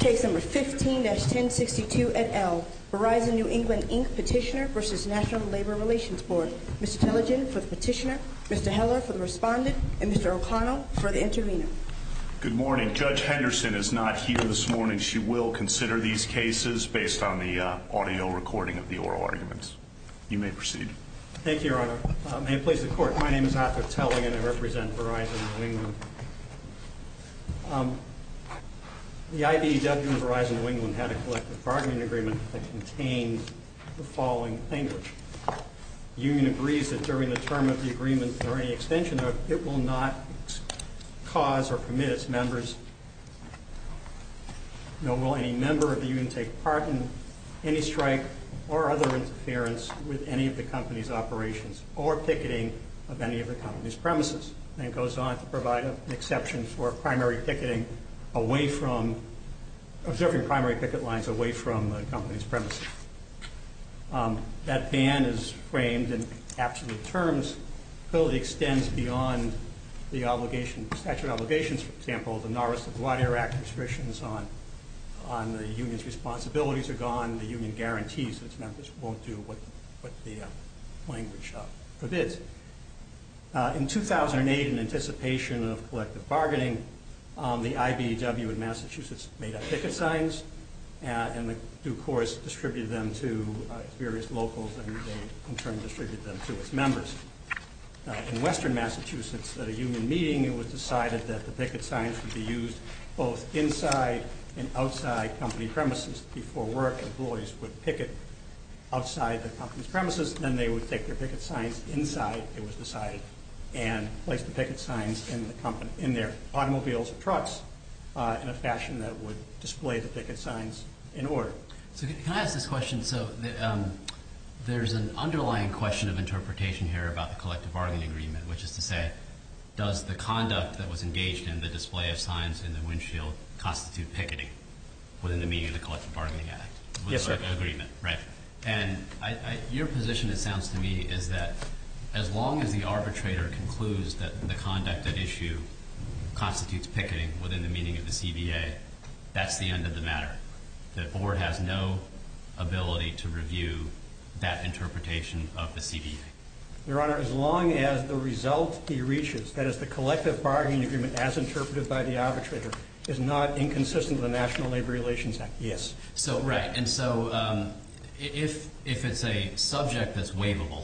Case No. 15-1062 et al. Verizon New England Inc. Petitioner v. National Labor Relations Board. Mr. Tellegen for the petitioner, Mr. Heller for the respondent, and Mr. O'Connell for the intervener. Good morning. Judge Henderson is not here this morning. She will consider these cases based on the audio recording of the oral arguments. You may proceed. Thank you, Your Honor. May it please the Court, my name is Arthur Tellegen and I represent Verizon New England. The IBEW and Verizon New England had a collective bargaining agreement that contained the following language. The union agrees that during the term of the agreement or any extension of it, it will not cause or permit its members nor will any member of the union take part in any strike or other interference with any of the company's operations or picketing of any of the company's premises. And it goes on to provide an exception for primary picketing away from, observing primary picket lines away from the company's premises. That ban is framed in absolute terms, clearly extends beyond the obligation, statute of obligations, for example, the Norris LaGuardia Act restrictions on the union's responsibilities are gone, the union guarantees its members won't do what the language forbids. In 2008, in anticipation of collective bargaining, the IBEW in Massachusetts made up picket signs and the due course distributed them to various locals and they in turn distributed them to its members. In Western Massachusetts, at a union meeting it was decided that the picket signs would be used both inside and outside company premises. Before work, employees would picket outside the company's premises, then they would take their picket signs inside, it was decided, and place the picket signs in their automobiles or trucks in a fashion that would display the picket signs in order. So can I ask this question? So there's an underlying question of interpretation here about the collective bargaining agreement, which is to say, does the conduct that was engaged in the display of signs in the windshield constitute picketing within the meaning of the collective bargaining act? Yes, sir. Agreement, right. And your position, it sounds to me, is that as long as the arbitrator concludes that the conduct at issue constitutes picketing within the meaning of the CBA, that's the end of the matter. The board has no ability to review that interpretation of the CBA. Your Honor, as long as the result he reaches, that is the collective bargaining agreement as interpreted by the arbitrator, is not inconsistent with the National Labor Relations Act, yes. Right. And so if it's a subject that's waivable,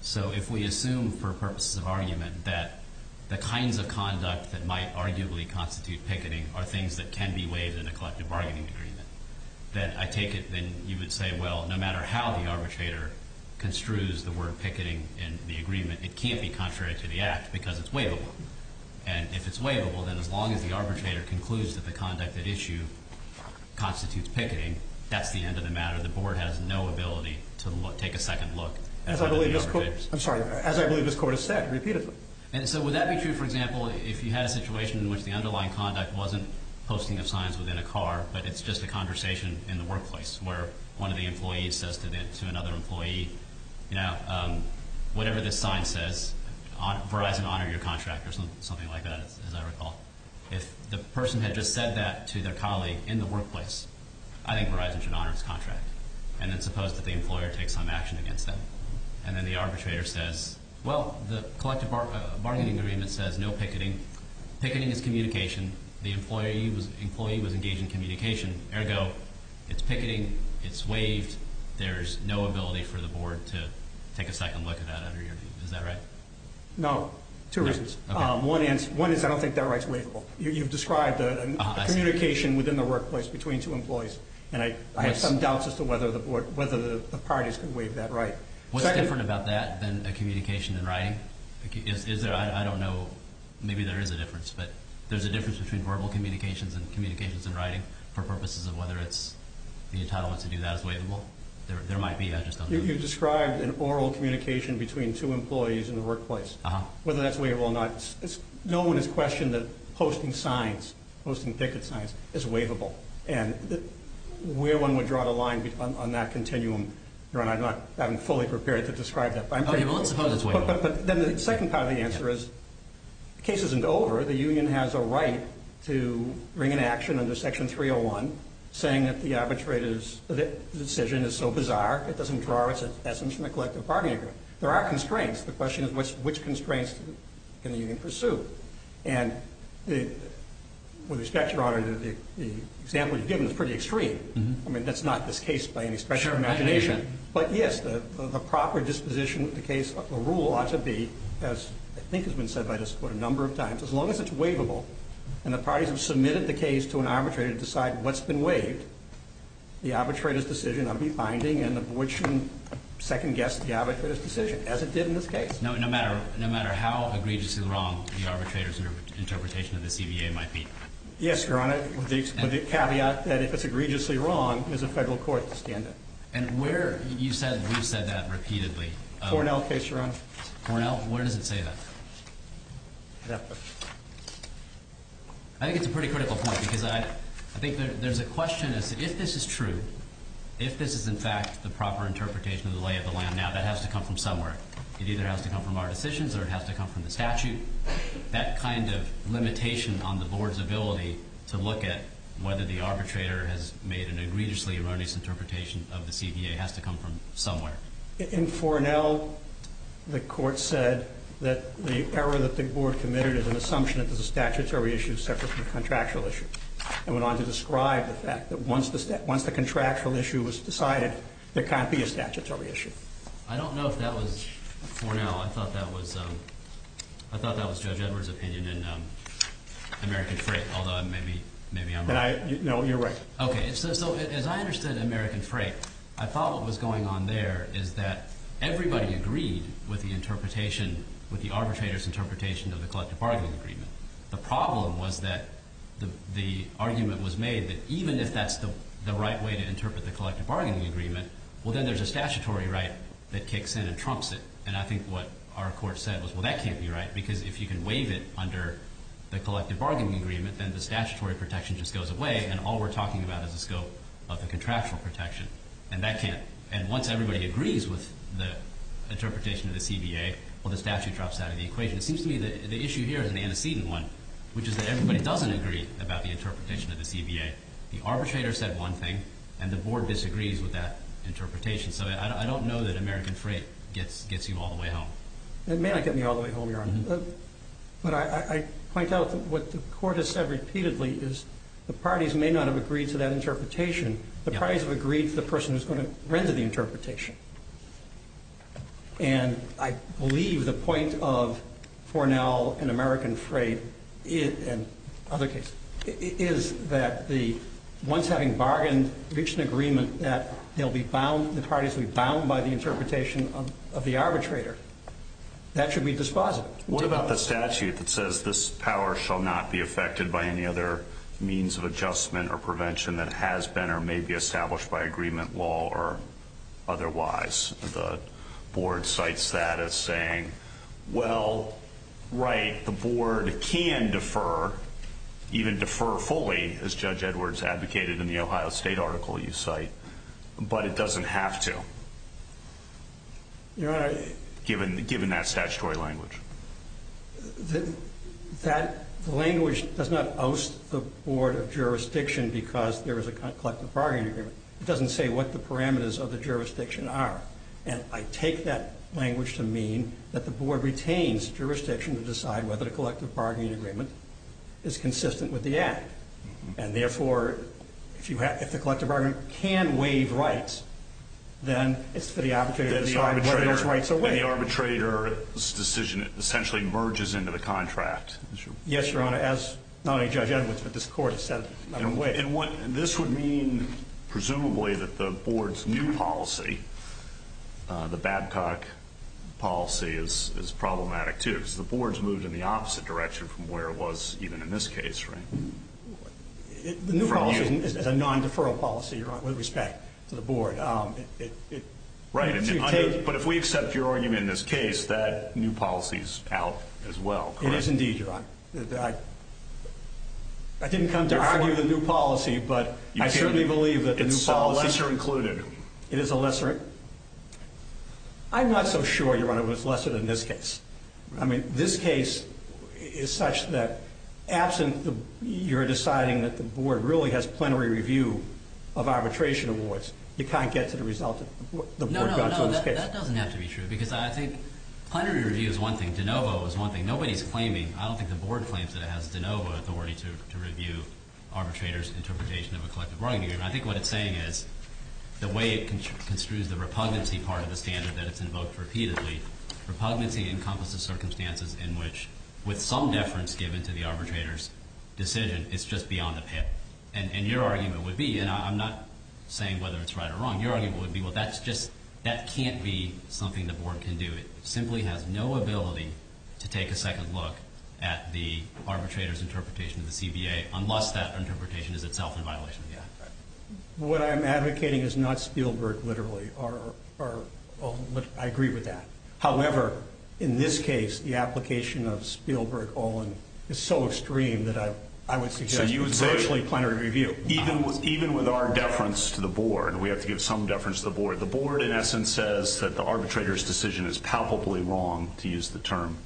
so if we assume for purposes of argument that the kinds of conduct that might arguably constitute picketing are things that can be waived in a collective bargaining agreement, then I take it then you would say, well, no matter how the arbitrator construes the word picketing in the agreement, it can't be contrary to the act because it's waivable. And if it's waivable, then as long as the arbitrator concludes that the conduct at issue constitutes picketing, that's the end of the matter. The board has no ability to take a second look. I'm sorry, as I believe this Court has said repeatedly. And so would that be true, for example, if you had a situation in which the underlying conduct wasn't posting of signs within a car but it's just a conversation in the workplace where one of the employees says to another employee, you know, whatever this sign says, Verizon, honor your contract or something like that, as I recall. If the person had just said that to their colleague in the workplace, I think Verizon should honor its contract. And then suppose that the employer takes some action against them. And then the arbitrator says, well, the collective bargaining agreement says no picketing. Picketing is communication. The employee was engaged in communication. Ergo, it's picketing, it's waived. There's no ability for the board to take a second look at that under your view. Is that right? No. Two reasons. One is I don't think that right's waivable. You've described a communication within the workplace between two employees. And I have some doubts as to whether the parties can waive that right. What's different about that than a communication in writing? I don't know. Maybe there is a difference. But there's a difference between verbal communications and communications in writing for purposes of whether the entitlement to do that is waivable. There might be. I just don't know. You've described an oral communication between two employees in the workplace, whether that's waivable or not. No one has questioned that posting signs, posting ticket signs, is waivable. And where one would draw the line on that continuum, I'm not fully prepared to describe that. But then the second part of the answer is the case isn't over. The union has a right to bring an action under Section 301 saying that the arbitrator's decision is so bizarre it doesn't draw its essence from the collective bargaining agreement. There are constraints. The question is which constraints can the union pursue? And with respect, Your Honor, the example you've given is pretty extreme. I mean, that's not this case by any stretch of imagination. But, yes, the proper disposition of the case, the rule ought to be, as I think has been said by this Court a number of times, as long as it's waivable and the parties have submitted the case to an arbitrator to decide what's been waived, the arbitrator's decision will be binding and the board shouldn't second-guess the arbitrator's decision, as it did in this case. No matter how egregiously wrong the arbitrator's interpretation of the CBA might be? Yes, Your Honor, with the caveat that if it's egregiously wrong, there's a federal court to stand in. And where? You've said that repeatedly. Cornell case, Your Honor. Cornell? Where does it say that? I think it's a pretty critical point because I think there's a question as to if this is true, if this is, in fact, the proper interpretation of the lay of the land now, that has to come from somewhere. It either has to come from our decisions or it has to come from the statute. That kind of limitation on the board's ability to look at whether the arbitrator has made an egregiously erroneous interpretation of the CBA has to come from somewhere. In Fornell, the Court said that the error that the board committed is an assumption that it was a statutory issue separate from a contractual issue. It went on to describe the fact that once the contractual issue was decided, there can't be a statutory issue. I don't know if that was Fornell. I thought that was Judge Edwards' opinion in American Freight, although maybe I'm wrong. No, you're right. Okay. So as I understood American Freight, I thought what was going on there is that everybody agreed with the interpretation, with the arbitrator's interpretation of the collective bargaining agreement. The problem was that the argument was made that even if that's the right way to interpret the collective bargaining agreement, well, then there's a statutory right that kicks in and trumps it. And I think what our Court said was, well, that can't be right because if you can waive it under the collective bargaining agreement, then the statutory protection just goes away and all we're talking about is the scope of the contractual protection, and that can't. And once everybody agrees with the interpretation of the CBA, well, the statute drops out of the equation. It seems to me that the issue here is an antecedent one, which is that everybody doesn't agree about the interpretation of the CBA. The arbitrator said one thing, and the Board disagrees with that interpretation. So I don't know that American Freight gets you all the way home. It may not get me all the way home, Your Honor. But I point out what the Court has said repeatedly is the parties may not have agreed to that interpretation. The parties have agreed to the person who's going to render the interpretation. And I believe the point of Fornell and American Freight and other cases is that once having bargained, reached an agreement that they'll be bound, the parties will be bound by the interpretation of the arbitrator. That should be dispositive. What about the statute that says this power shall not be affected by any other means of adjustment or prevention that has been or may be established by agreement, law, or otherwise? The Board cites that as saying, well, right, the Board can defer, even defer fully, as Judge Edwards advocated in the Ohio State article you cite, but it doesn't have to, Your Honor, given that statutory language. That language does not oust the Board of Jurisdiction because there is a collective bargaining agreement. It doesn't say what the parameters of the jurisdiction are. And I take that language to mean that the Board retains jurisdiction to decide whether the collective bargaining agreement is consistent with the Act. And, therefore, if the collective bargaining agreement can waive rights, then it's for the arbitrator to decide whether those rights are waived. And the arbitrator's decision essentially merges into the contract. Yes, Your Honor, as not only Judge Edwards, but this Court has said. And this would mean, presumably, that the Board's new policy, the Babcock policy, is problematic, too, because the Board's moved in the opposite direction from where it was even in this case, right? The new policy is a non-deferral policy, Your Honor, with respect to the Board. Right, but if we accept your argument in this case, that new policy's out as well, correct? It is indeed, Your Honor. I didn't come to argue the new policy, but I certainly believe that the new policy… It's a lesser included. It is a lesser… I'm not so sure, Your Honor, that it's lesser than this case. I mean, this case is such that, absent your deciding that the Board really has plenary review of arbitration awards, you can't get to the result that the Board got to in this case. No, no, no, that doesn't have to be true, because I think plenary review is one thing. De novo is one thing. Nobody's claiming. I don't think the Board claims that it has de novo authority to review arbitrators' interpretation of a collective bargaining agreement. I think what it's saying is, the way it construes the repugnancy part of the standard that it's invoked repeatedly, repugnancy encompasses circumstances in which, with some deference given to the arbitrator's decision, it's just beyond a pip. And your argument would be, and I'm not saying whether it's right or wrong, your argument would be, well, that can't be something the Board can do. It simply has no ability to take a second look at the arbitrator's interpretation of the CBA unless that interpretation is itself in violation of the Act. What I'm advocating is not Spielberg, literally. I agree with that. However, in this case, the application of Spielberg-Olin is so extreme that I would suggest… It's virtually plenary review. Even with our deference to the Board, we have to give some deference to the Board. The Board, in essence, says that the arbitrator's decision is palpably wrong, to use the term.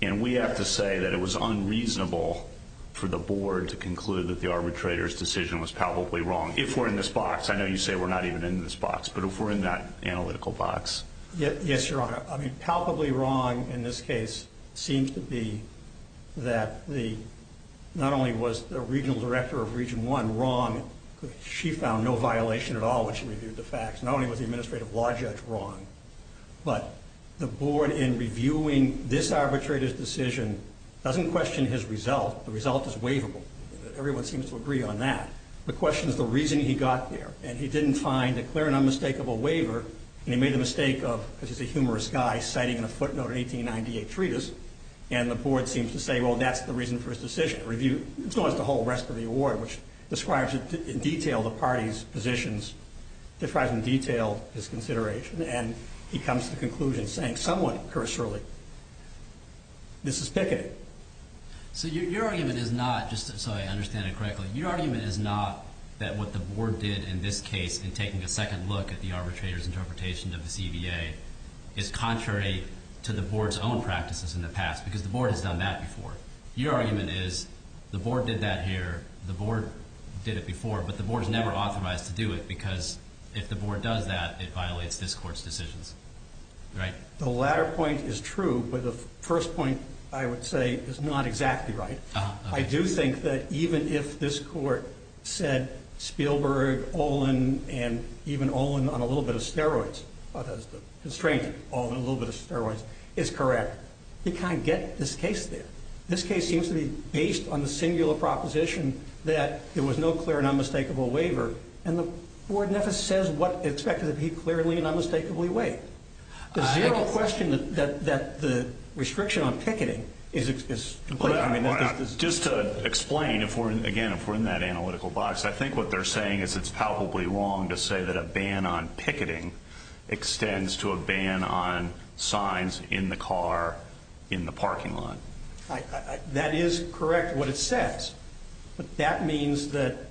And we have to say that it was unreasonable for the Board to conclude that the arbitrator's decision was palpably wrong, if we're in this box. I know you say we're not even in this box, but if we're in that analytical box. Yes, Your Honor. I mean, palpably wrong in this case seems to be that not only was the Regional Director of Region 1 wrong, she found no violation at all when she reviewed the facts. Not only was the Administrative Law Judge wrong, but the Board, in reviewing this arbitrator's decision, doesn't question his result. The result is waivable. Everyone seems to agree on that. The question is the reason he got there. And he didn't find a clear and unmistakable waiver. And he made the mistake of, because he's a humorous guy, citing in a footnote an 1898 treatise. And the Board seems to say, well, that's the reason for his decision. It's not as the whole rest of the award, which describes in detail the party's positions, describes in detail his consideration. And he comes to the conclusion saying somewhat cursorily, this is picketing. So your argument is not, just so I understand it correctly, your argument is not that what the Board did in this case in taking a second look at the arbitrator's interpretation of the CBA is contrary to the Board's own practices in the past because the Board has done that before. Your argument is the Board did that here, the Board did it before, but the Board is never authorized to do it because if the Board does that, it violates this Court's decisions. Right? The latter point is true, but the first point, I would say, is not exactly right. I do think that even if this Court said Spielberg, Olin, and even Olin on a little bit of steroids, the constraint on a little bit of steroids is correct, you can't get this case there. This case seems to be based on the singular proposition that there was no clear and unmistakable waiver, and the Board never says what it expected to be clearly and unmistakably waived. I have a question that the restriction on picketing is completely wrong. Just to explain, again, if we're in that analytical box, I think what they're saying is it's palpably wrong to say that a ban on picketing extends to a ban on signs in the car in the parking lot. That is correct what it says, but that means that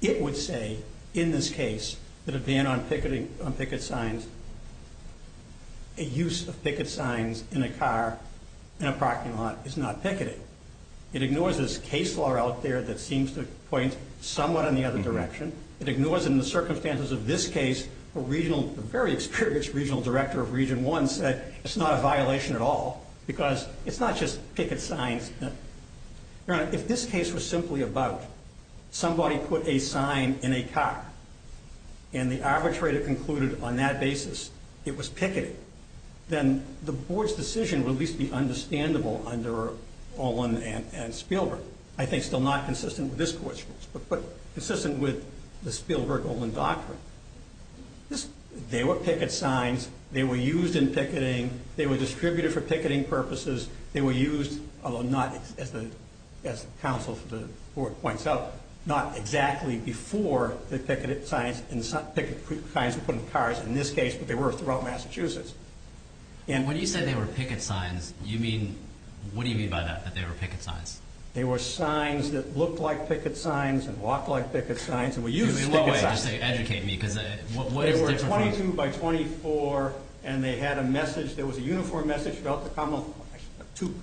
it would say in this case that a ban on picketing on picket signs, a use of picket signs in a car in a parking lot is not picketing. It ignores this case law out there that seems to point somewhat in the other direction. It ignores in the circumstances of this case, a very experienced regional director of Region 1 said it's not a violation at all because it's not just picket signs. Your Honor, if this case was simply about somebody put a sign in a car and the arbitrator concluded on that basis it was picketing, then the Board's decision would at least be understandable under Olin and Spielberg. I think still not consistent with this Court's rules, but consistent with the Spielberg-Olin doctrine. They were picket signs. They were used in picketing. They were distributed for picketing purposes. They were used, although not as the counsel for the Board points out, not exactly before the picket signs and picket signs were put in cars in this case, but they were throughout Massachusetts. When you say they were picket signs, what do you mean by that, that they were picket signs? They were signs that looked like picket signs and walked like picket signs and were used as picket signs. In what way? Just educate me because what is the difference? They were 22 by 24, and they had a message. Two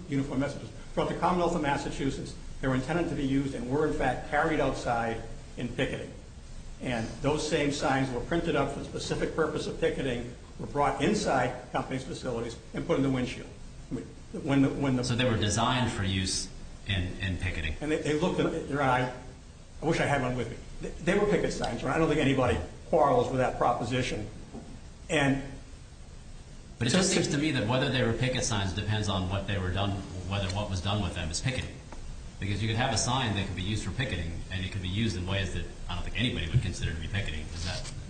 uniform messages. From the commonwealth of Massachusetts, they were intended to be used and were, in fact, carried outside in picketing. And those same signs were printed up for the specific purpose of picketing, were brought inside companies' facilities, and put in the windshield. So they were designed for use in picketing. And they looked in your eye. I wish I had one with me. They were picket signs. I don't think anybody quarrels with that proposition. But it just seems to me that whether they were picket signs depends on what was done with them as picketing. Because you could have a sign that could be used for picketing, and it could be used in ways that I don't think anybody would consider to be picketing.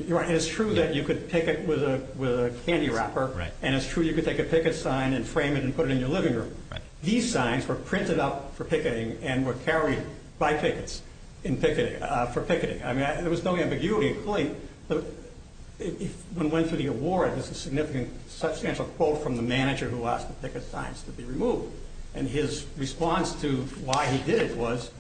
You're right. And it's true that you could picket with a candy wrapper, and it's true you could take a picket sign and frame it and put it in your living room. These signs were printed up for picketing and were carried by pickets for picketing. There was no ambiguity. When we went through the award, there's a significant substantial quote from the manager who asked the picket signs to be removed. And his response to why he did it was,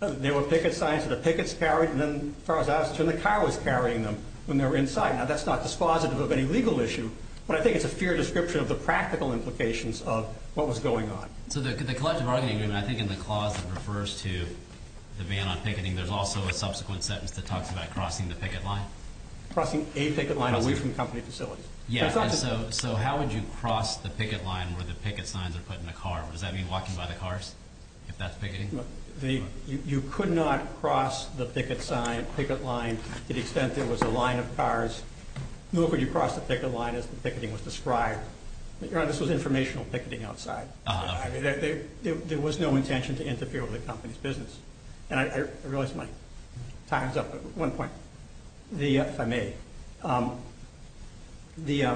there were picket signs that the pickets carried, and then as far as I was concerned, the car was carrying them when they were inside. Now, that's not dispositive of any legal issue, but I think it's a fair description of the practical implications of what was going on. So the collective bargaining agreement, I think, in the clause that refers to the ban on picketing, there's also a subsequent sentence that talks about crossing the picket line. Crossing a picket line away from company facilities. So how would you cross the picket line where the picket signs are put in a car? Does that mean walking by the cars if that's picketing? You could not cross the picket line to the extent there was a line of cars. Nor could you cross the picket line as the picketing was described. This was informational picketing outside. There was no intention to interfere with the company's business. And I realize my time's up at one point. If I may. The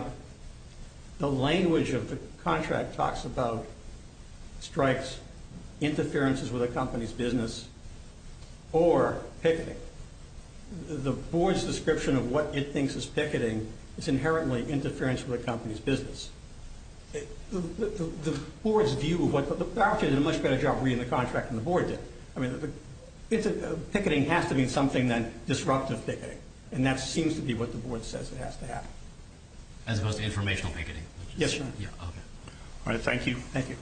language of the contract talks about strikes, interferences with a company's business, or picketing. The board's description of what it thinks is picketing is inherently interference with a company's business. The board's view of what, but the faculty did a much better job reading the contract than the board did. Picketing has to mean something than disruptive picketing. And that seems to be what the board says it has to have. As opposed to informational picketing? Yes, Your Honor. All right, thank you. Thank you. Thank you.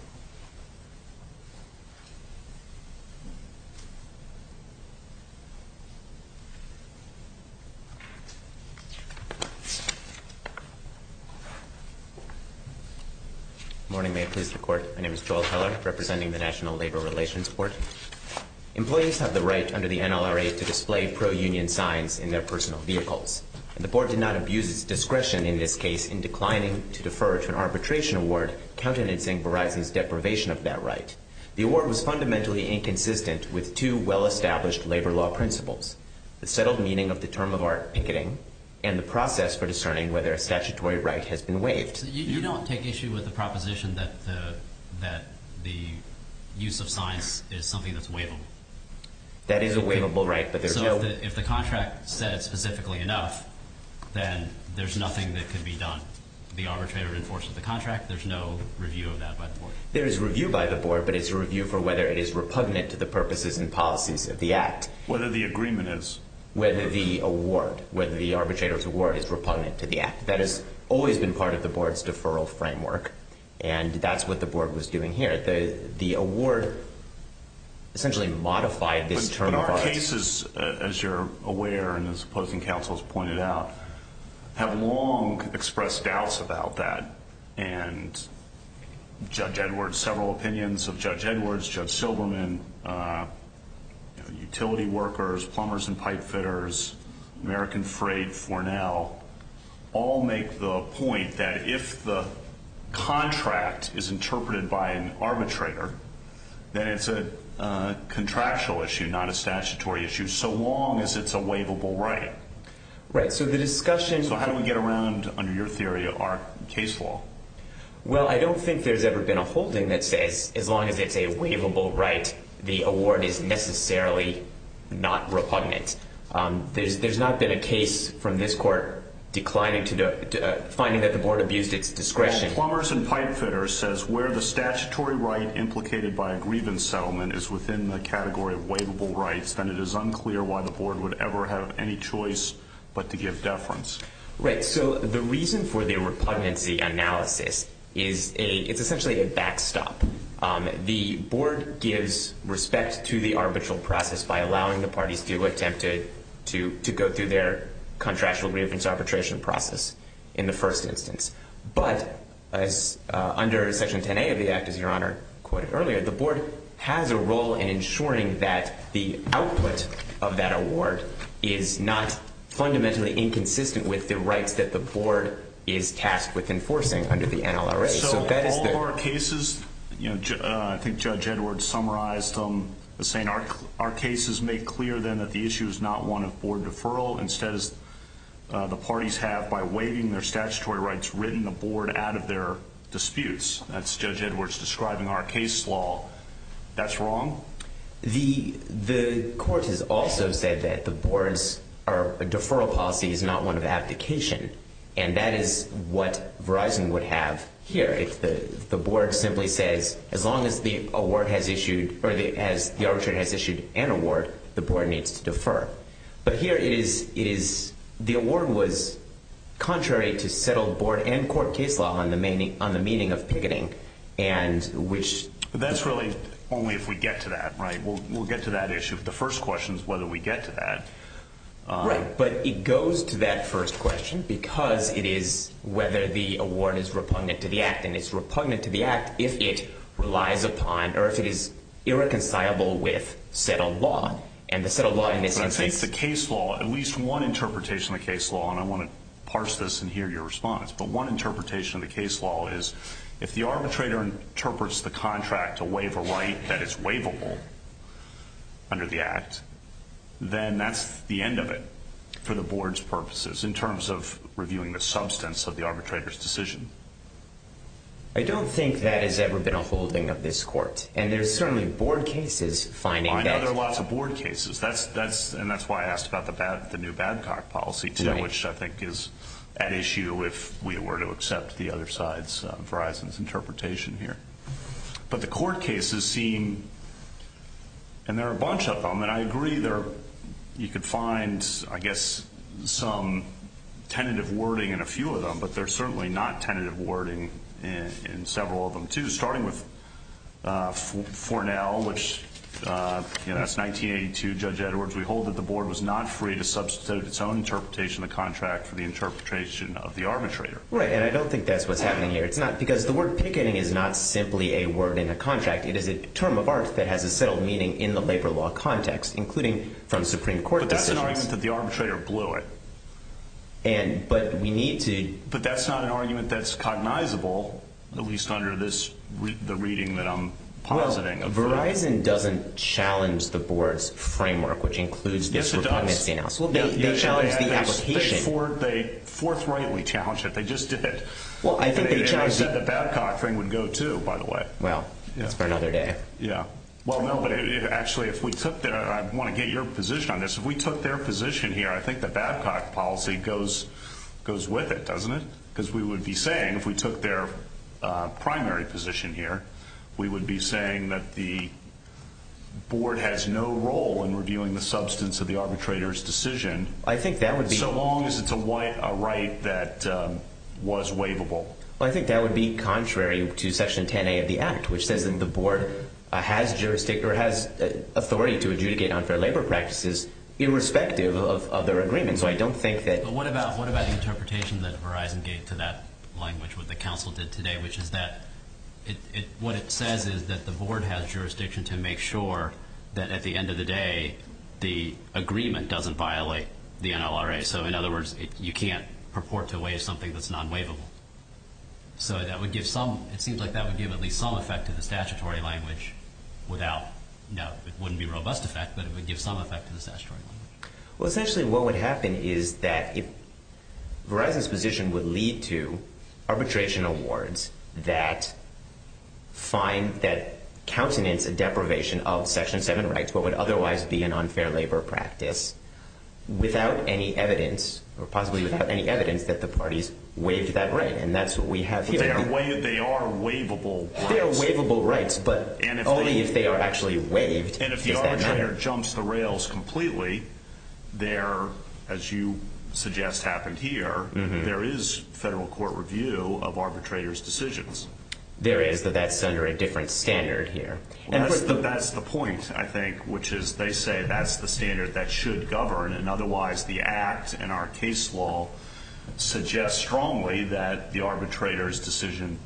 Good morning, may it please the court. My name is Joel Heller, representing the National Labor Relations Board. Employees have the right under the NLRA to display pro-union signs in their personal vehicles. The board did not abuse its discretion in this case in declining to defer to an arbitration award, countenancing Verizon's deprivation of that right. The award was fundamentally inconsistent with two well-established labor law principles, the settled meaning of the term of art picketing, and the process for discerning whether a statutory right has been waived. You don't take issue with the proposition that the use of signs is something that's waivable? That is a waivable right, but there's no— So if the contract says specifically enough, then there's nothing that can be done. The arbitrator enforces the contract. There's no review of that by the board? There is a review by the board, but it's a review for whether it is repugnant to the purposes and policies of the act. Whether the agreement is? Whether the award, whether the arbitrator's award is repugnant to the act. That has always been part of the board's deferral framework, and that's what the board was doing here. The award essentially modified this term of art. But our cases, as you're aware and as opposing counsels pointed out, have long expressed doubts about that. And Judge Edwards, several opinions of Judge Edwards, Judge Silberman, utility workers, plumbers and pipe fitters, American Freight, Fornell, all make the point that if the contract is interpreted by an arbitrator, then it's a contractual issue, not a statutory issue, so long as it's a waivable right. Right. So the discussion So how do we get around, under your theory, our case law? Well, I don't think there's ever been a holding that says as long as it's a waivable right, the award is necessarily not repugnant. There's not been a case from this court finding that the board abused its discretion. Well, plumbers and pipe fitters says where the statutory right implicated by a grievance settlement is within the category of waivable rights, then it is unclear why the board would ever have any choice but to give deference. Right. So the reason for the repugnancy analysis is it's essentially a backstop. The board gives respect to the arbitral process by allowing the parties to attempt to go through their contractual grievance arbitration process in the first instance. But under Section 10A of the Act, as Your Honor quoted earlier, the board has a role in ensuring that the output of that award is not fundamentally inconsistent with the rights that the board is tasked with enforcing under the NLRA. So all of our cases, you know, I think Judge Edwards summarized them, saying our cases make clear then that the issue is not one of board deferral. Instead, the parties have, by waiving their statutory rights, written the board out of their disputes. That's Judge Edwards describing our case law. That's wrong? The court has also said that the board's deferral policy is not one of abdication. And that is what Verizon would have here. If the board simply says as long as the award has issued or the arbitrator has issued an award, the board needs to defer. But here it is, the award was contrary to settled board and court case law on the meaning of picketing. And which... That's really only if we get to that, right? We'll get to that issue. The first question is whether we get to that. Right. But it goes to that first question because it is whether the award is repugnant to the Act. And it's repugnant to the Act if it relies upon or if it is irreconcilable with settled law. In the case law, at least one interpretation of the case law, and I want to parse this and hear your response, but one interpretation of the case law is if the arbitrator interprets the contract to waive a right that is waivable under the Act, then that's the end of it for the board's purposes in terms of reviewing the substance of the arbitrator's decision. I don't think that has ever been a holding of this court. And there's certainly board cases finding that... And that's why I asked about the new Babcock policy today, which I think is at issue if we were to accept the other side's, Verizon's interpretation here. But the court cases seem... And there are a bunch of them, and I agree you could find, I guess, some tentative wording in a few of them, but there's certainly not tentative wording in several of them, too, starting with Fornell, which, you know, that's 1982, Judge Edwards. We hold that the board was not free to substitute its own interpretation of the contract for the interpretation of the arbitrator. Right, and I don't think that's what's happening here. It's not because the word picketing is not simply a word in a contract. It is a term of art that has a settled meaning in the labor law context, including from Supreme Court decisions. But that's an argument that the arbitrator blew it. But we need to... But that's not an argument that's cognizable, at least under this, the reading that I'm positing. Well, Verizon doesn't challenge the board's framework, which includes... Yes, it does. They challenge the application. They forthrightly challenge it. They just did. Well, I think they challenged... And I said the Babcock thing would go, too, by the way. Well, that's for another day. Yeah. Well, no, but actually, if we took the... I want to get your position on this. If we took their position here, I think the Babcock policy goes with it, doesn't it? Because we would be saying, if we took their primary position here, we would be saying that the board has no role in reviewing the substance of the arbitrator's decision. I think that would be... So long as it's a right that was waivable. Well, I think that would be contrary to Section 10A of the Act, which says that the board has authority to adjudicate unfair labor practices irrespective of their agreement. So I don't think that... But what about the interpretation that Verizon gave to that language, what the council did today, which is that what it says is that the board has jurisdiction to make sure that, at the end of the day, the agreement doesn't violate the NLRA. So, in other words, you can't purport to waive something that's non-waivable. So that would give some... It seems like that would give at least some effect to the statutory language without... Now, it wouldn't be robust effect, but it would give some effect to the statutory language. Well, essentially what would happen is that Verizon's position would lead to arbitration awards that find that countenance a deprivation of Section 7 rights, what would otherwise be an unfair labor practice, without any evidence, or possibly without any evidence, that the parties waived that right. And that's what we have here. But they are waivable rights. They are waivable rights, but only if they are actually waived. And if the arbitrator jumps the rails completely, there, as you suggest happened here, there is federal court review of arbitrator's decisions. There is, but that's under a different standard here. That's the point, I think, which is they say that's the standard that should govern, and otherwise the act and our case law suggest strongly that the arbitrator's decision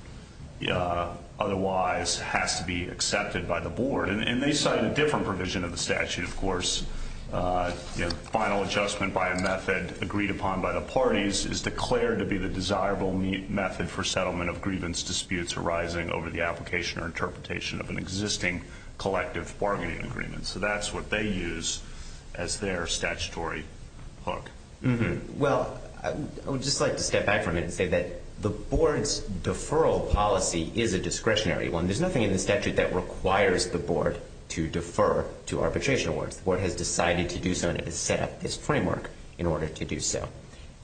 otherwise has to be accepted by the board. And they cite a different provision of the statute, of course. Final adjustment by a method agreed upon by the parties is declared to be the desirable method for settlement of grievance disputes arising over the application or interpretation of an existing collective bargaining agreement. So that's what they use as their statutory hook. Well, I would just like to step back for a minute and say that the board's deferral policy is a discretionary one. There's nothing in the statute that requires the board to defer to arbitration awards. The board has decided to do so, and it has set up this framework in order to do so.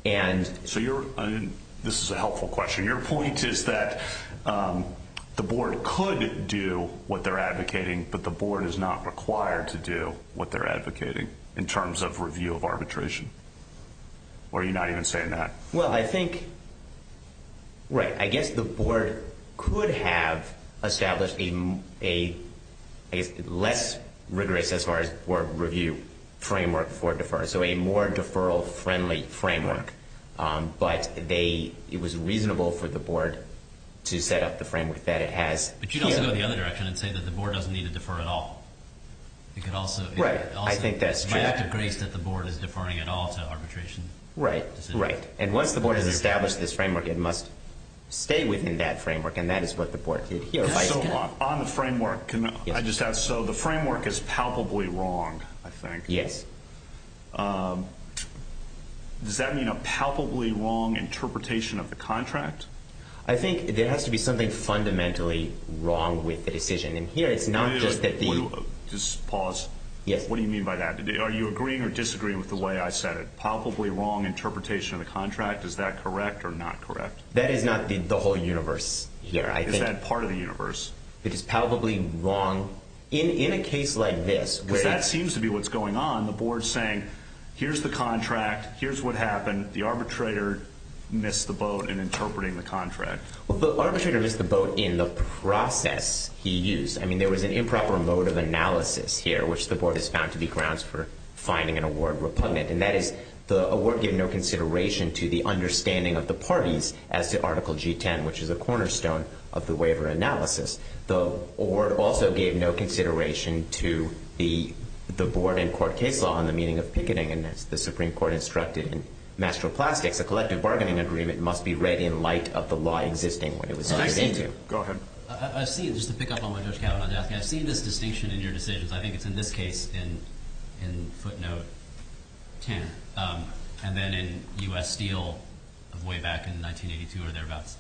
And so you're – this is a helpful question. Your point is that the board could do what they're advocating, but the board is not required to do what they're advocating in terms of review of arbitration. Or are you not even saying that? Well, I think – right. I guess the board could have established a, I guess, less rigorous as far as board review framework for defer. So a more deferral-friendly framework. But they – it was reasonable for the board to set up the framework that it has. But you'd also go the other direction and say that the board doesn't need to defer at all. It could also – it's just a grace that the board is deferring at all to arbitration decisions. Right. Right. And once the board has established this framework, it must stay within that framework. And that is what the board did here. On the framework, can I just add? So the framework is palpably wrong, I think. Yes. Does that mean a palpably wrong interpretation of the contract? I think there has to be something fundamentally wrong with the decision. And here it's not just that the – Just pause. Yes. What do you mean by that? Are you agreeing or disagreeing with the way I said it? Palpably wrong interpretation of the contract? Is that correct or not correct? That is not the whole universe here. Is that part of the universe? It is palpably wrong. In a case like this, which – Because that seems to be what's going on. The board's saying, here's the contract. Here's what happened. The arbitrator missed the boat in interpreting the contract. Well, the arbitrator missed the boat in the process he used. I mean, there was an improper mode of analysis here, which the board has found to be grounds for finding an award repugnant. And that is the award gave no consideration to the understanding of the parties as to Article G-10, which is a cornerstone of the waiver analysis. The award also gave no consideration to the board and court case law on the meaning of picketing. And as the Supreme Court instructed in Master of Plastics, a collective bargaining agreement must be read in light of the law existing when it was signed into. Go ahead. I've seen, just to pick up on what Judge Kavanaugh's asking, I've seen this distinction in your decisions. I think it's in this case in footnote 10, and then in U.S. Steel way back in 1982 or thereabouts.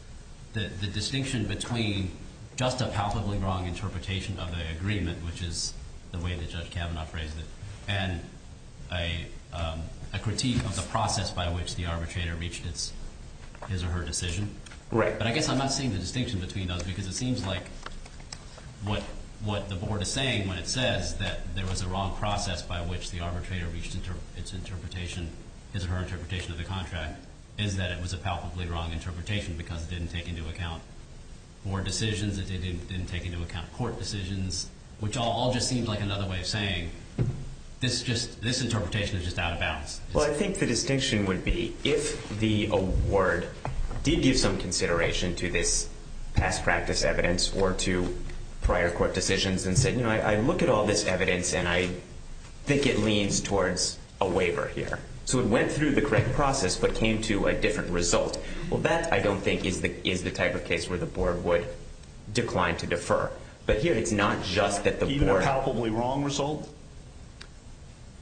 The distinction between just a palpably wrong interpretation of the agreement, which is the way that Judge Kavanaugh phrased it, and a critique of the process by which the arbitrator reached his or her decision. Right. But I guess I'm not seeing the distinction between those because it seems like what the board is saying when it says that there was a wrong process by which the arbitrator reached its interpretation, his or her interpretation of the contract, is that it was a palpably wrong interpretation because it didn't take into account board decisions, it didn't take into account court decisions, which all just seems like another way of saying this interpretation is just out of bounds. Well, I think the distinction would be if the award did give some consideration to this past practice evidence or to prior court decisions and said, you know, I look at all this evidence and I think it leans towards a waiver here. So it went through the correct process but came to a different result. Well, that I don't think is the type of case where the board would decline to defer. But here it's not just that the board... Even a palpably wrong result?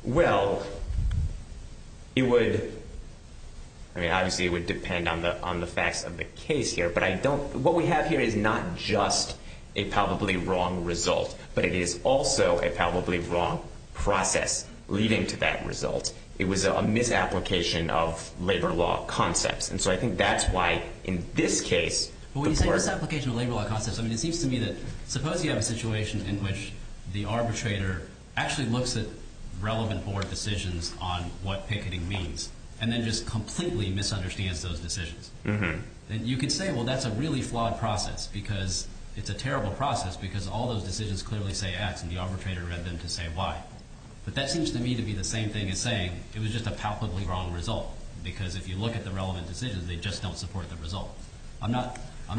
Well, it would... I mean, obviously it would depend on the facts of the case here, but what we have here is not just a palpably wrong result, but it is also a palpably wrong process leading to that result. It was a misapplication of labor law concepts. And so I think that's why in this case... Well, when you say misapplication of labor law concepts, I mean, it seems to me that suppose you have a situation in which the arbitrator actually looks at relevant board decisions on what picketing means and then just completely misunderstands those decisions. And you could say, well, that's a really flawed process because it's a terrible process because all those decisions clearly say X and the arbitrator read them to say Y. But that seems to me to be the same thing as saying it was just a palpably wrong result because if you look at the relevant decisions, they just don't support the result. I'm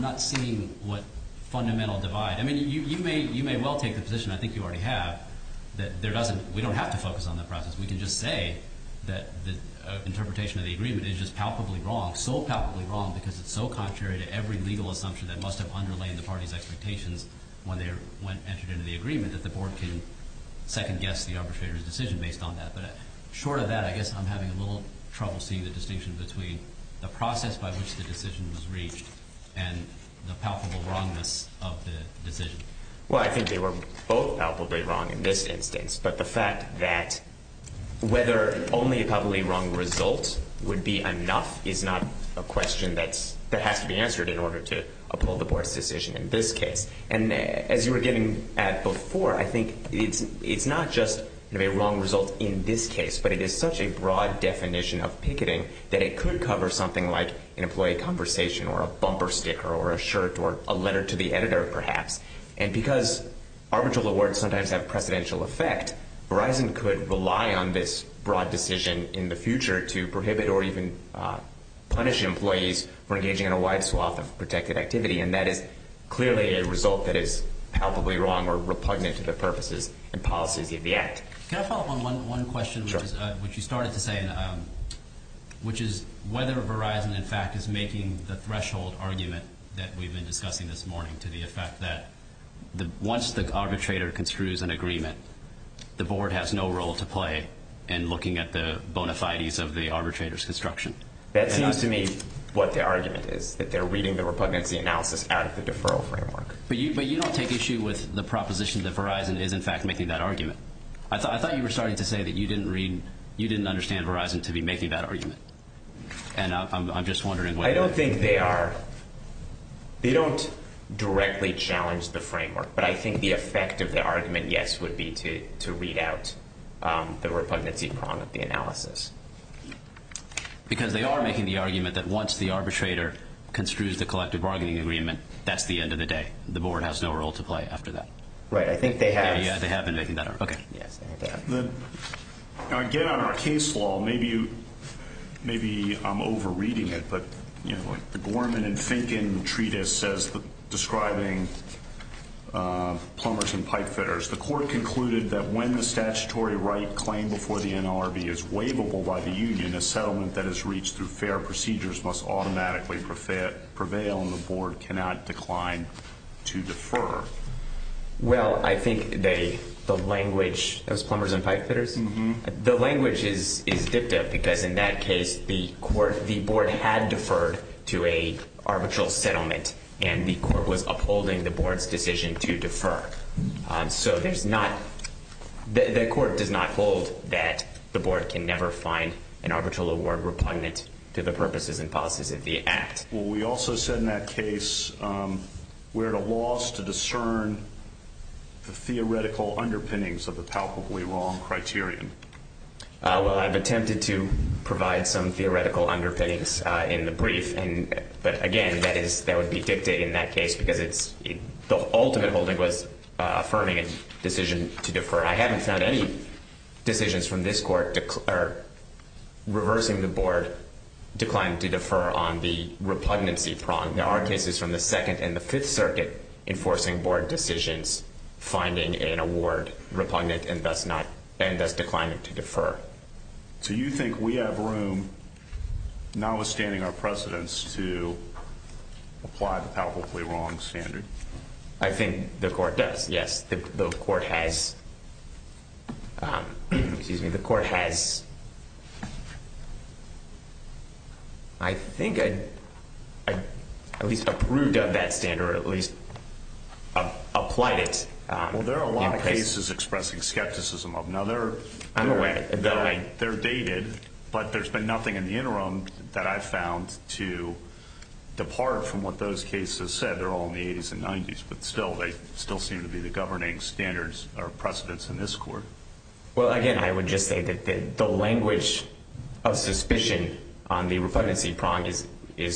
not seeing what fundamental divide... I mean, you may well take the position, I think you already have, that we don't have to focus on that process. We can just say that the interpretation of the agreement is just palpably wrong, so palpably wrong because it's so contrary to every legal assumption that must have underlain the party's expectations when they entered into the agreement that the board can second-guess the arbitrator's decision based on that. But short of that, I guess I'm having a little trouble seeing the distinction between the process by which the decision was reached and the palpably wrongness of the decision. Well, I think they were both palpably wrong in this instance, but the fact that whether only a palpably wrong result would be enough is not a question that has to be answered in order to uphold the board's decision in this case. And as you were getting at before, I think it's not just a wrong result in this case, but it is such a broad definition of picketing that it could cover something like an employee conversation or a bumper sticker or a shirt or a letter to the editor perhaps. And because arbitral awards sometimes have precedential effect, Verizon could rely on this broad decision in the future to prohibit or even punish employees for engaging in a wide swath of protected activity, and that is clearly a result that is palpably wrong or repugnant to the purposes and policies of the Act. Can I follow up on one question, which you started to say, which is whether Verizon, in fact, is making the threshold argument that we've been discussing this morning to the effect that once the arbitrator construes an agreement, the board has no role to play in looking at the bona fides of the arbitrator's construction. That seems to me what the argument is, that they're reading the repugnancy analysis out of the deferral framework. But you don't take issue with the proposition that Verizon is, in fact, making that argument. I thought you were starting to say that you didn't read, you didn't understand Verizon to be making that argument. And I'm just wondering. I don't think they are. They don't directly challenge the framework, but I think the effect of the argument, yes, would be to read out the repugnancy prong of the analysis. Because they are making the argument that once the arbitrator construes the collective bargaining agreement, that's the end of the day. The board has no role to play after that. Right. I think they have. Yeah, yeah, they have been making that argument. Okay. Again, on our case law, maybe I'm over-reading it, but the Gorman and Finken treatise says, describing plumbers and pipe fitters, the court concluded that when the statutory right claimed before the NLRB is waivable by the union, a settlement that is reached through fair procedures must automatically prevail, and the board cannot decline to defer. Well, I think the language of plumbers and pipe fitters, the language is dipped up, because in that case the board had deferred to an arbitral settlement, and the court was upholding the board's decision to defer. So the court does not hold that the board can never find an arbitral award repugnant to the purposes and policies of the act. Well, we also said in that case we're at a loss to discern the theoretical underpinnings of the palpably wrong criterion. Well, I've attempted to provide some theoretical underpinnings in the brief, but, again, that would be dictated in that case because the ultimate holding was affirming a decision to defer. I haven't found any decisions from this court reversing the board decline to defer on the repugnancy prong. There are cases from the Second and the Fifth Circuit enforcing board decisions, finding an award repugnant and thus declining to defer. Do you think we have room, notwithstanding our precedence, to apply the palpably wrong standard? I think the court does, yes. The court has. Excuse me. The court has. I think I at least approved of that standard or at least applied it. Well, there are a lot of cases expressing skepticism. Now, they're dated, but there's been nothing in the interim that I've found to depart from what those cases said. They're all in the 80s and 90s, but still, they still seem to be the governing standards or precedents in this court. Well, again, I would just say that the language of suspicion on the repugnancy prong is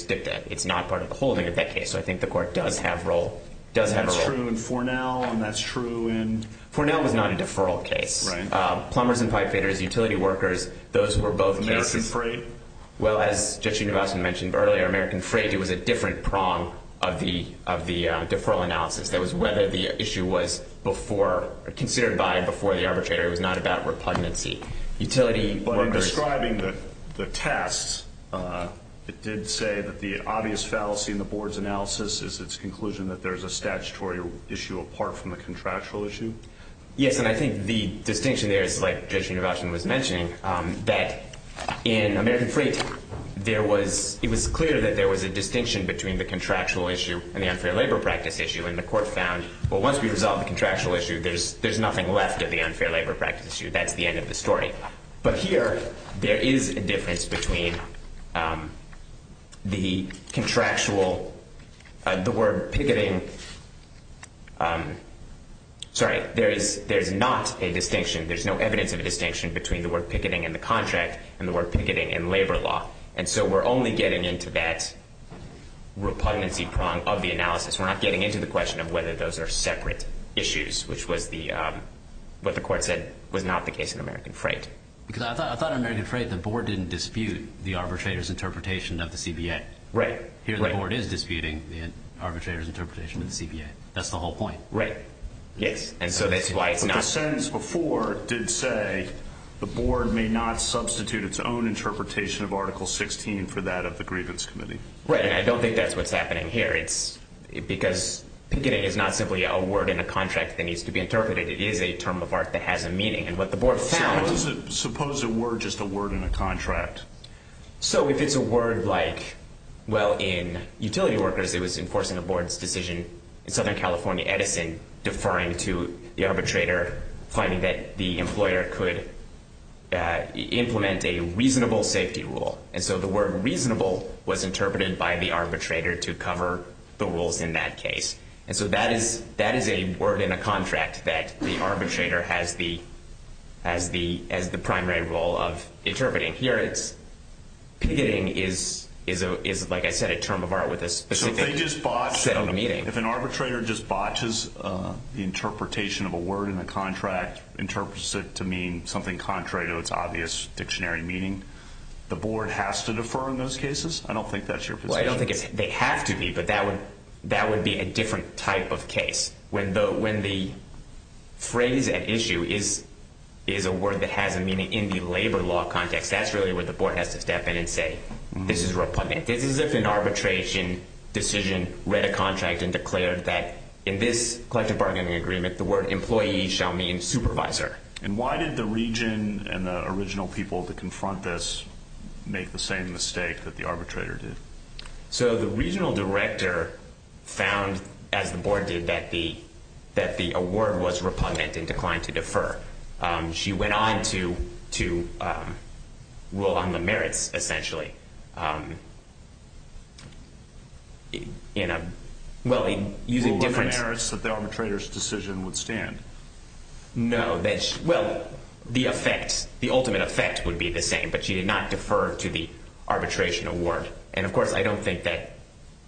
dictated. It's not part of the holding of that case, so I think the court does have a role. That's true in Fornell, and that's true in? Fornell was not a deferral case. Plumbers and pipefitters, utility workers, those who were both cases. American Freight? Well, as Judge Univasan mentioned earlier, American Freight, it was a different prong of the deferral analysis. That was whether the issue was before or considered by before the arbitrator. It was not about repugnancy. Utility workers. But in describing the tests, it did say that the obvious fallacy in the board's analysis is its conclusion that there's a statutory issue apart from the contractual issue? Yes, and I think the distinction there is, like Judge Univasan was mentioning, that in American Freight, it was clear that there was a distinction between the contractual issue and the unfair labor practice issue, and the court found, well, once we resolve the contractual issue, there's nothing left of the unfair labor practice issue. That's the end of the story. But here, there is a difference between the contractual, the word picketing. Sorry, there's not a distinction. There's no evidence of a distinction between the word picketing and the contract and the word picketing and labor law. And so we're only getting into that repugnancy prong of the analysis. We're not getting into the question of whether those are separate issues, which was what the court said was not the case in American Freight. Because I thought in American Freight, the board didn't dispute the arbitrator's interpretation of the CBA. Right. Here, the board is disputing the arbitrator's interpretation of the CBA. That's the whole point. Right. Yes. And so that's why it's not. But the sentence before did say the board may not substitute its own interpretation of Article 16 for that of the Grievance Committee. Right, and I don't think that's what's happening here. It's because picketing is not simply a word in a contract that needs to be interpreted. It is a term of art that has a meaning. And what the board found was – Suppose it were just a word in a contract. So if it's a word like, well, in utility workers, it was enforcing the board's decision in Southern California Edison, deferring to the arbitrator, finding that the employer could implement a reasonable safety rule. And so the word reasonable was interpreted by the arbitrator to cover the rules in that case. And so that is a word in a contract that the arbitrator has the primary role of interpreting. Here, picketing is, like I said, a term of art with a specific set of meaning. So if an arbitrator just botches the interpretation of a word in the contract, interprets it to mean something contrary to its obvious dictionary meaning, the board has to defer in those cases? I don't think that's your position. Well, I don't think it's – they have to be, but that would be a different type of case. When the phrase at issue is a word that has a meaning in the labor law context, that's really where the board has to step in and say, this is repugnant. This is if an arbitration decision read a contract and declared that, in this collective bargaining agreement, the word employee shall mean supervisor. And why did the region and the original people to confront this make the same mistake that the arbitrator did? So the regional director found, as the board did, that the word was repugnant and declined to defer. She went on to rule on the merits, essentially. Rule on the merits that the arbitrator's decision would stand? No. Well, the effect, the ultimate effect would be the same, but she did not defer to the arbitration award. And, of course, I don't think that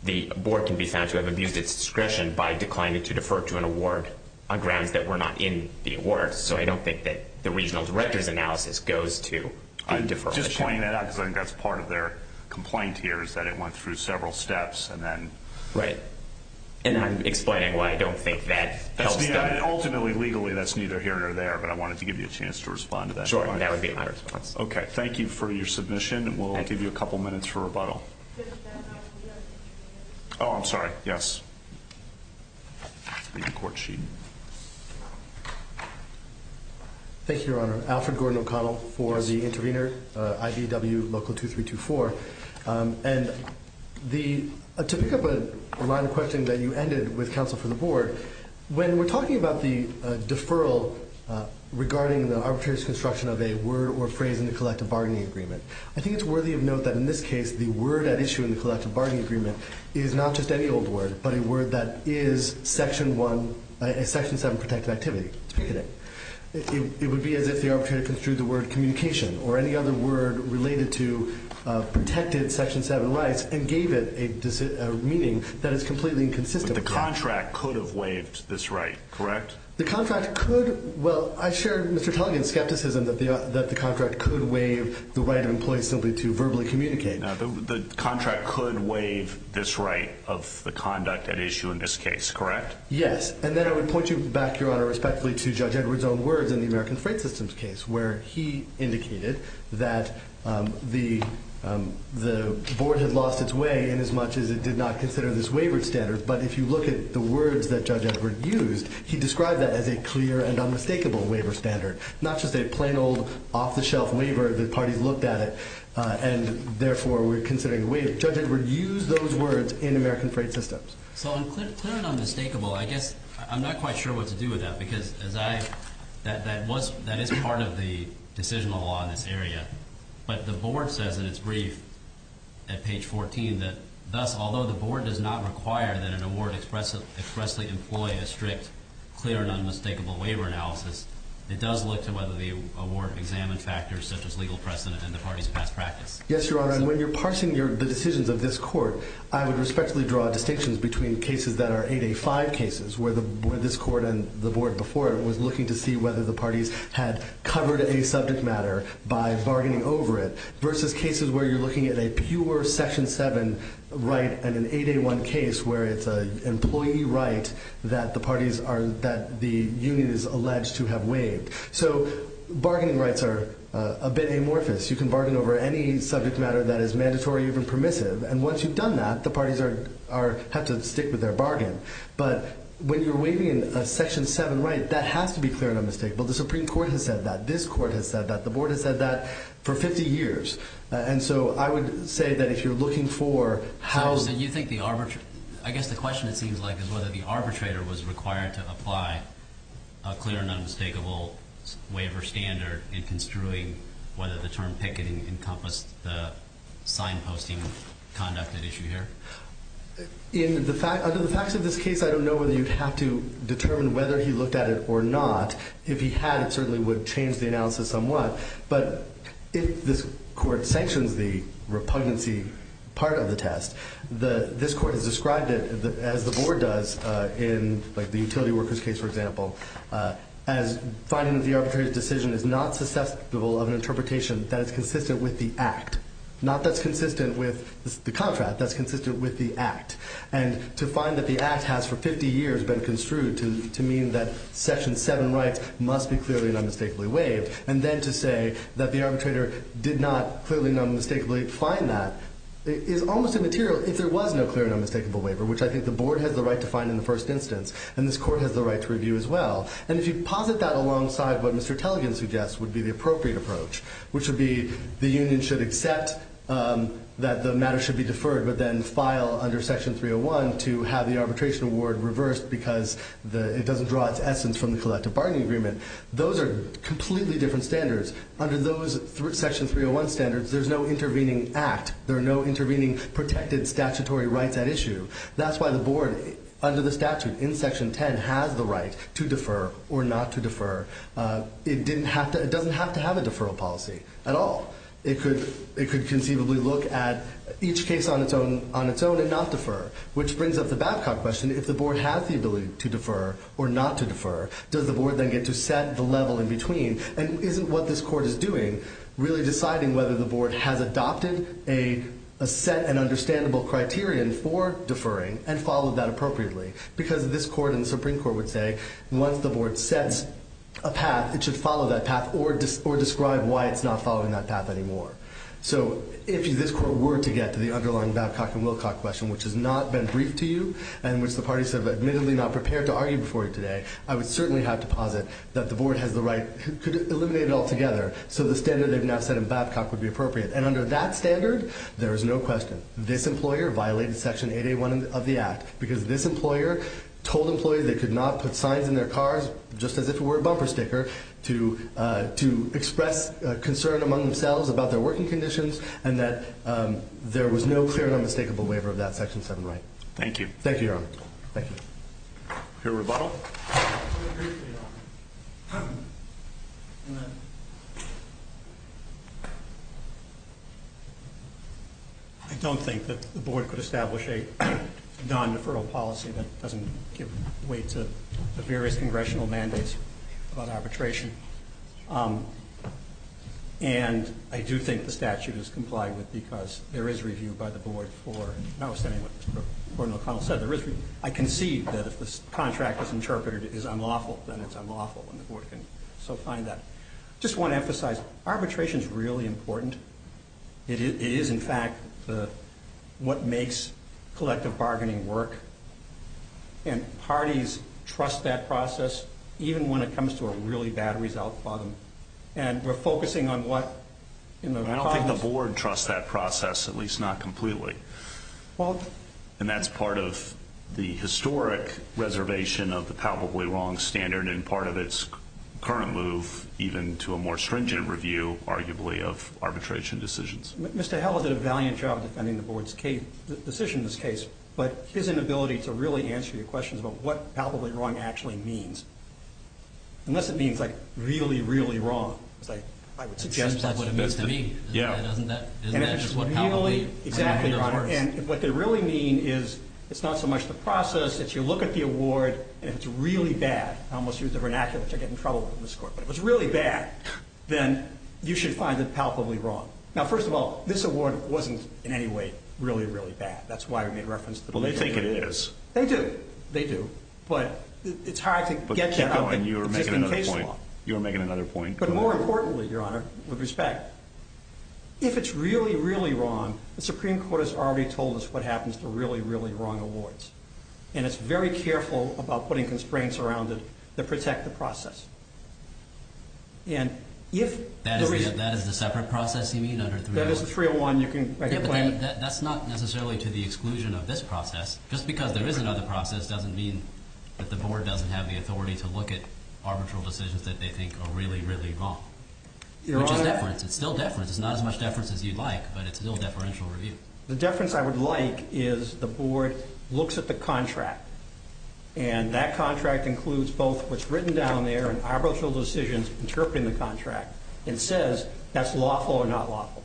the board can be found to have abused its discretion by declining to defer to an award on grounds that were not in the award. So I don't think that the regional director's analysis goes to a deferral. I'm just pointing that out because I think that's part of their complaint here is that it went through several steps and then – Right. And I'm explaining why I don't think that helps them. And ultimately, legally, that's neither here nor there, but I wanted to give you a chance to respond to that. That would be my response. Okay. Thank you for your submission. We'll give you a couple minutes for rebuttal. Oh, I'm sorry. Yes. The court sheet. Thank you, Your Honor. Alfred Gordon O'Connell for the intervener, IBW Local 2324. And to pick up a line of questioning that you ended with counsel for the board, when we're talking about the deferral regarding the arbitrator's construction of a word or phrase in the collective bargaining agreement, I think it's worthy of note that in this case the word at issue in the collective bargaining agreement is not just any old word but a word that is Section 7 protected activity. It would be as if the arbitrator construed the word communication or any other word related to protected Section 7 rights and gave it a meaning that is completely inconsistent with that. The contract could have waived this right, correct? The contract could. Well, I shared Mr. Tulligan's skepticism that the contract could waive the right of employees simply to verbally communicate. The contract could waive this right of the conduct at issue in this case, correct? Yes. And then I would point you back, Your Honor, respectfully to Judge Edwards' own words in the American Freight System's case where he indicated that the board had lost its way inasmuch as it did not consider this waivered standard. But if you look at the words that Judge Edwards used, he described that as a clear and unmistakable waiver standard, not just a plain old off-the-shelf waiver that parties looked at it and therefore were considering waived. Judge Edwards used those words in American Freight System's. So clear and unmistakable, I guess I'm not quite sure what to do with that because that is part of the decisional law in this area. But the board says in its brief at page 14 that, thus, although the board does not require that an award expressly employ a strict clear and unmistakable waiver analysis, it does look to whether the award examined factors such as legal precedent and the party's past practice. Yes, Your Honor. And when you're parsing the decisions of this court, I would respectfully draw distinctions between cases that are 8A5 cases where this court and the board before it was looking to see whether the parties had covered a subject matter by bargaining over it versus where you're looking at a pure Section 7 right and an 8A1 case where it's an employee right that the parties are that the union is alleged to have waived. So bargaining rights are a bit amorphous. You can bargain over any subject matter that is mandatory or even permissive. And once you've done that, the parties have to stick with their bargain. But when you're waiving a Section 7 right, that has to be clear and unmistakable. The Supreme Court has said that. This court has said that. The board has said that for 50 years. And so I would say that if you're looking for how... So you think the arbitrator... I guess the question it seems like is whether the arbitrator was required to apply a clear and unmistakable waiver standard in construing whether the term picketing encompassed the signposting conduct at issue here. Under the facts of this case, I don't know whether you'd have to determine whether he looked at it or not. If he had, it certainly would change the analysis somewhat. But if this court sanctions the repugnancy part of the test, this court has described it as the board does in the utility workers case, for example, as finding that the arbitrator's decision is not susceptible of an interpretation that is consistent with the Act. Not that's consistent with the contract. That's consistent with the Act. And to find that the Act has for 50 years been construed to mean that Section 7 rights must be clearly and unmistakably waived and then to say that the arbitrator did not clearly and unmistakably find that is almost immaterial if there was no clear and unmistakable waiver, which I think the board has the right to find in the first instance, and this court has the right to review as well. And if you posit that alongside what Mr. Tellegen suggests would be the appropriate approach, which would be the union should accept that the matter should be deferred but then file under Section 301 to have the arbitration award reversed because it doesn't draw its essence from the collective bargaining agreement, those are completely different standards. Under those Section 301 standards, there's no intervening Act. There are no intervening protected statutory rights at issue. That's why the board, under the statute in Section 10, has the right to defer or not to defer. It doesn't have to have a deferral policy at all. It could conceivably look at each case on its own and not defer, which brings up the Babcock question. If the board has the ability to defer or not to defer, does the board then get to set the level in between? And isn't what this court is doing really deciding whether the board has adopted a set and understandable criterion for deferring and followed that appropriately? Because this court and the Supreme Court would say once the board sets a path, it should follow that path or describe why it's not following that path anymore. So if this court were to get to the underlying Babcock and Wilcock question, which has not been briefed to you and which the parties have admittedly not prepared to argue before you today, I would certainly have to posit that the board has the right to eliminate it altogether so the standard they've now set in Babcock would be appropriate. And under that standard, there is no question this employer violated Section 881 of the Act because this employer told employees they could not put signs in their cars, just as if it were a bumper sticker, to express concern among themselves about their working conditions and that there was no clear and unmistakable waiver of that Section 7 right. Thank you. Thank you, Your Honor. Thank you. Your rebuttal. I don't think that the board could establish a non-deferral policy that doesn't give way to the various congressional mandates on arbitration. And I do think the statute is compliant with it because there is review by the board for, notwithstanding what Gordon O'Connell said, there is review. I concede that if this contract is interpreted as unlawful, then it's unlawful and the board can still find that. I just want to emphasize arbitration is really important. It is, in fact, what makes collective bargaining work. And parties trust that process, even when it comes to a really bad result for them. And we're focusing on what, you know, I don't think the board trusts that process, at least not completely. And that's part of the historic reservation of the palpably wrong standard and part of its current move even to a more stringent review, arguably, of arbitration decisions. Mr. Howell did a valiant job defending the board's decision in this case, but his inability to really answer your questions about what palpably wrong actually means, unless it means, like, really, really wrong, I would suggest that's what it means to me. Yeah. Isn't that just what palpably means? Exactly, Your Honor. And what they really mean is it's not so much the process, it's your look at the award, and if it's really bad, I almost used a vernacular which I get in trouble with in this court, but if it's really bad, then you should find it palpably wrong. Now, first of all, this award wasn't in any way really, really bad. That's why we made reference to the belief that it is. Well, they think it is. They do. They do. But it's hard to get to the existing case law. But keep going. You were making another point. But more importantly, Your Honor, with respect, if it's really, really wrong, the Supreme Court has already told us what happens to really, really wrong awards, and it's very careful about putting constraints around it that protect the process. That is the separate process you mean? That is the 301. That's not necessarily to the exclusion of this process. Just because there is another process doesn't mean that the board doesn't have the authority to look at really, really wrong, which is deference. It's still deference. It's not as much deference as you'd like, but it's still deferential review. The deference I would like is the board looks at the contract, and that contract includes both what's written down there and arbitral decisions interpreting the contract and says that's lawful or not lawful.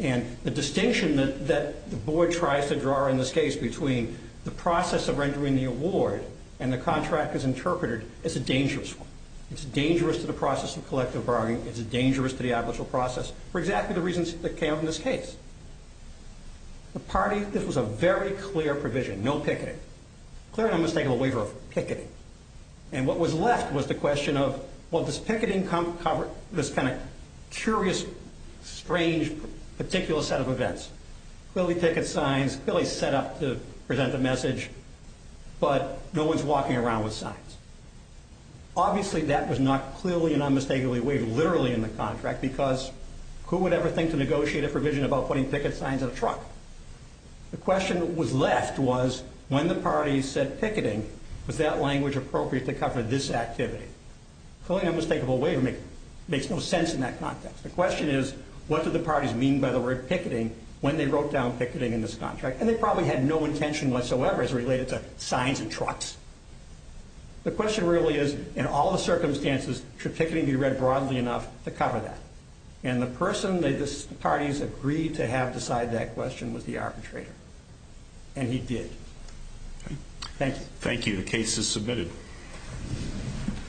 And the distinction that the board tries to draw in this case between the process of rendering the award and the contract as interpreted is a dangerous one. It's dangerous to the process of collective bargaining. It's dangerous to the arbitral process for exactly the reasons that came up in this case. The party, this was a very clear provision, no picketing. Clearly, I'm mistaken, a waiver of picketing. And what was left was the question of, well, does picketing cover this kind of curious, strange, particular set of events? Clearly picket signs, clearly set up to present the message, but no one's walking around with signs. Obviously, that was not clearly and unmistakably waived literally in the contract, because who would ever think to negotiate a provision about putting picket signs on a truck? The question that was left was, when the party said picketing, was that language appropriate to cover this activity? Clearly an unmistakable waiver makes no sense in that context. The question is, what do the parties mean by the word picketing when they wrote down picketing in this contract? And they probably had no intention whatsoever as related to signs and trucks. The question really is, in all the circumstances, should picketing be read broadly enough to cover that? And the person that the parties agreed to have decide that question was the arbitrator. And he did. Thank you. Thank you. The case is submitted.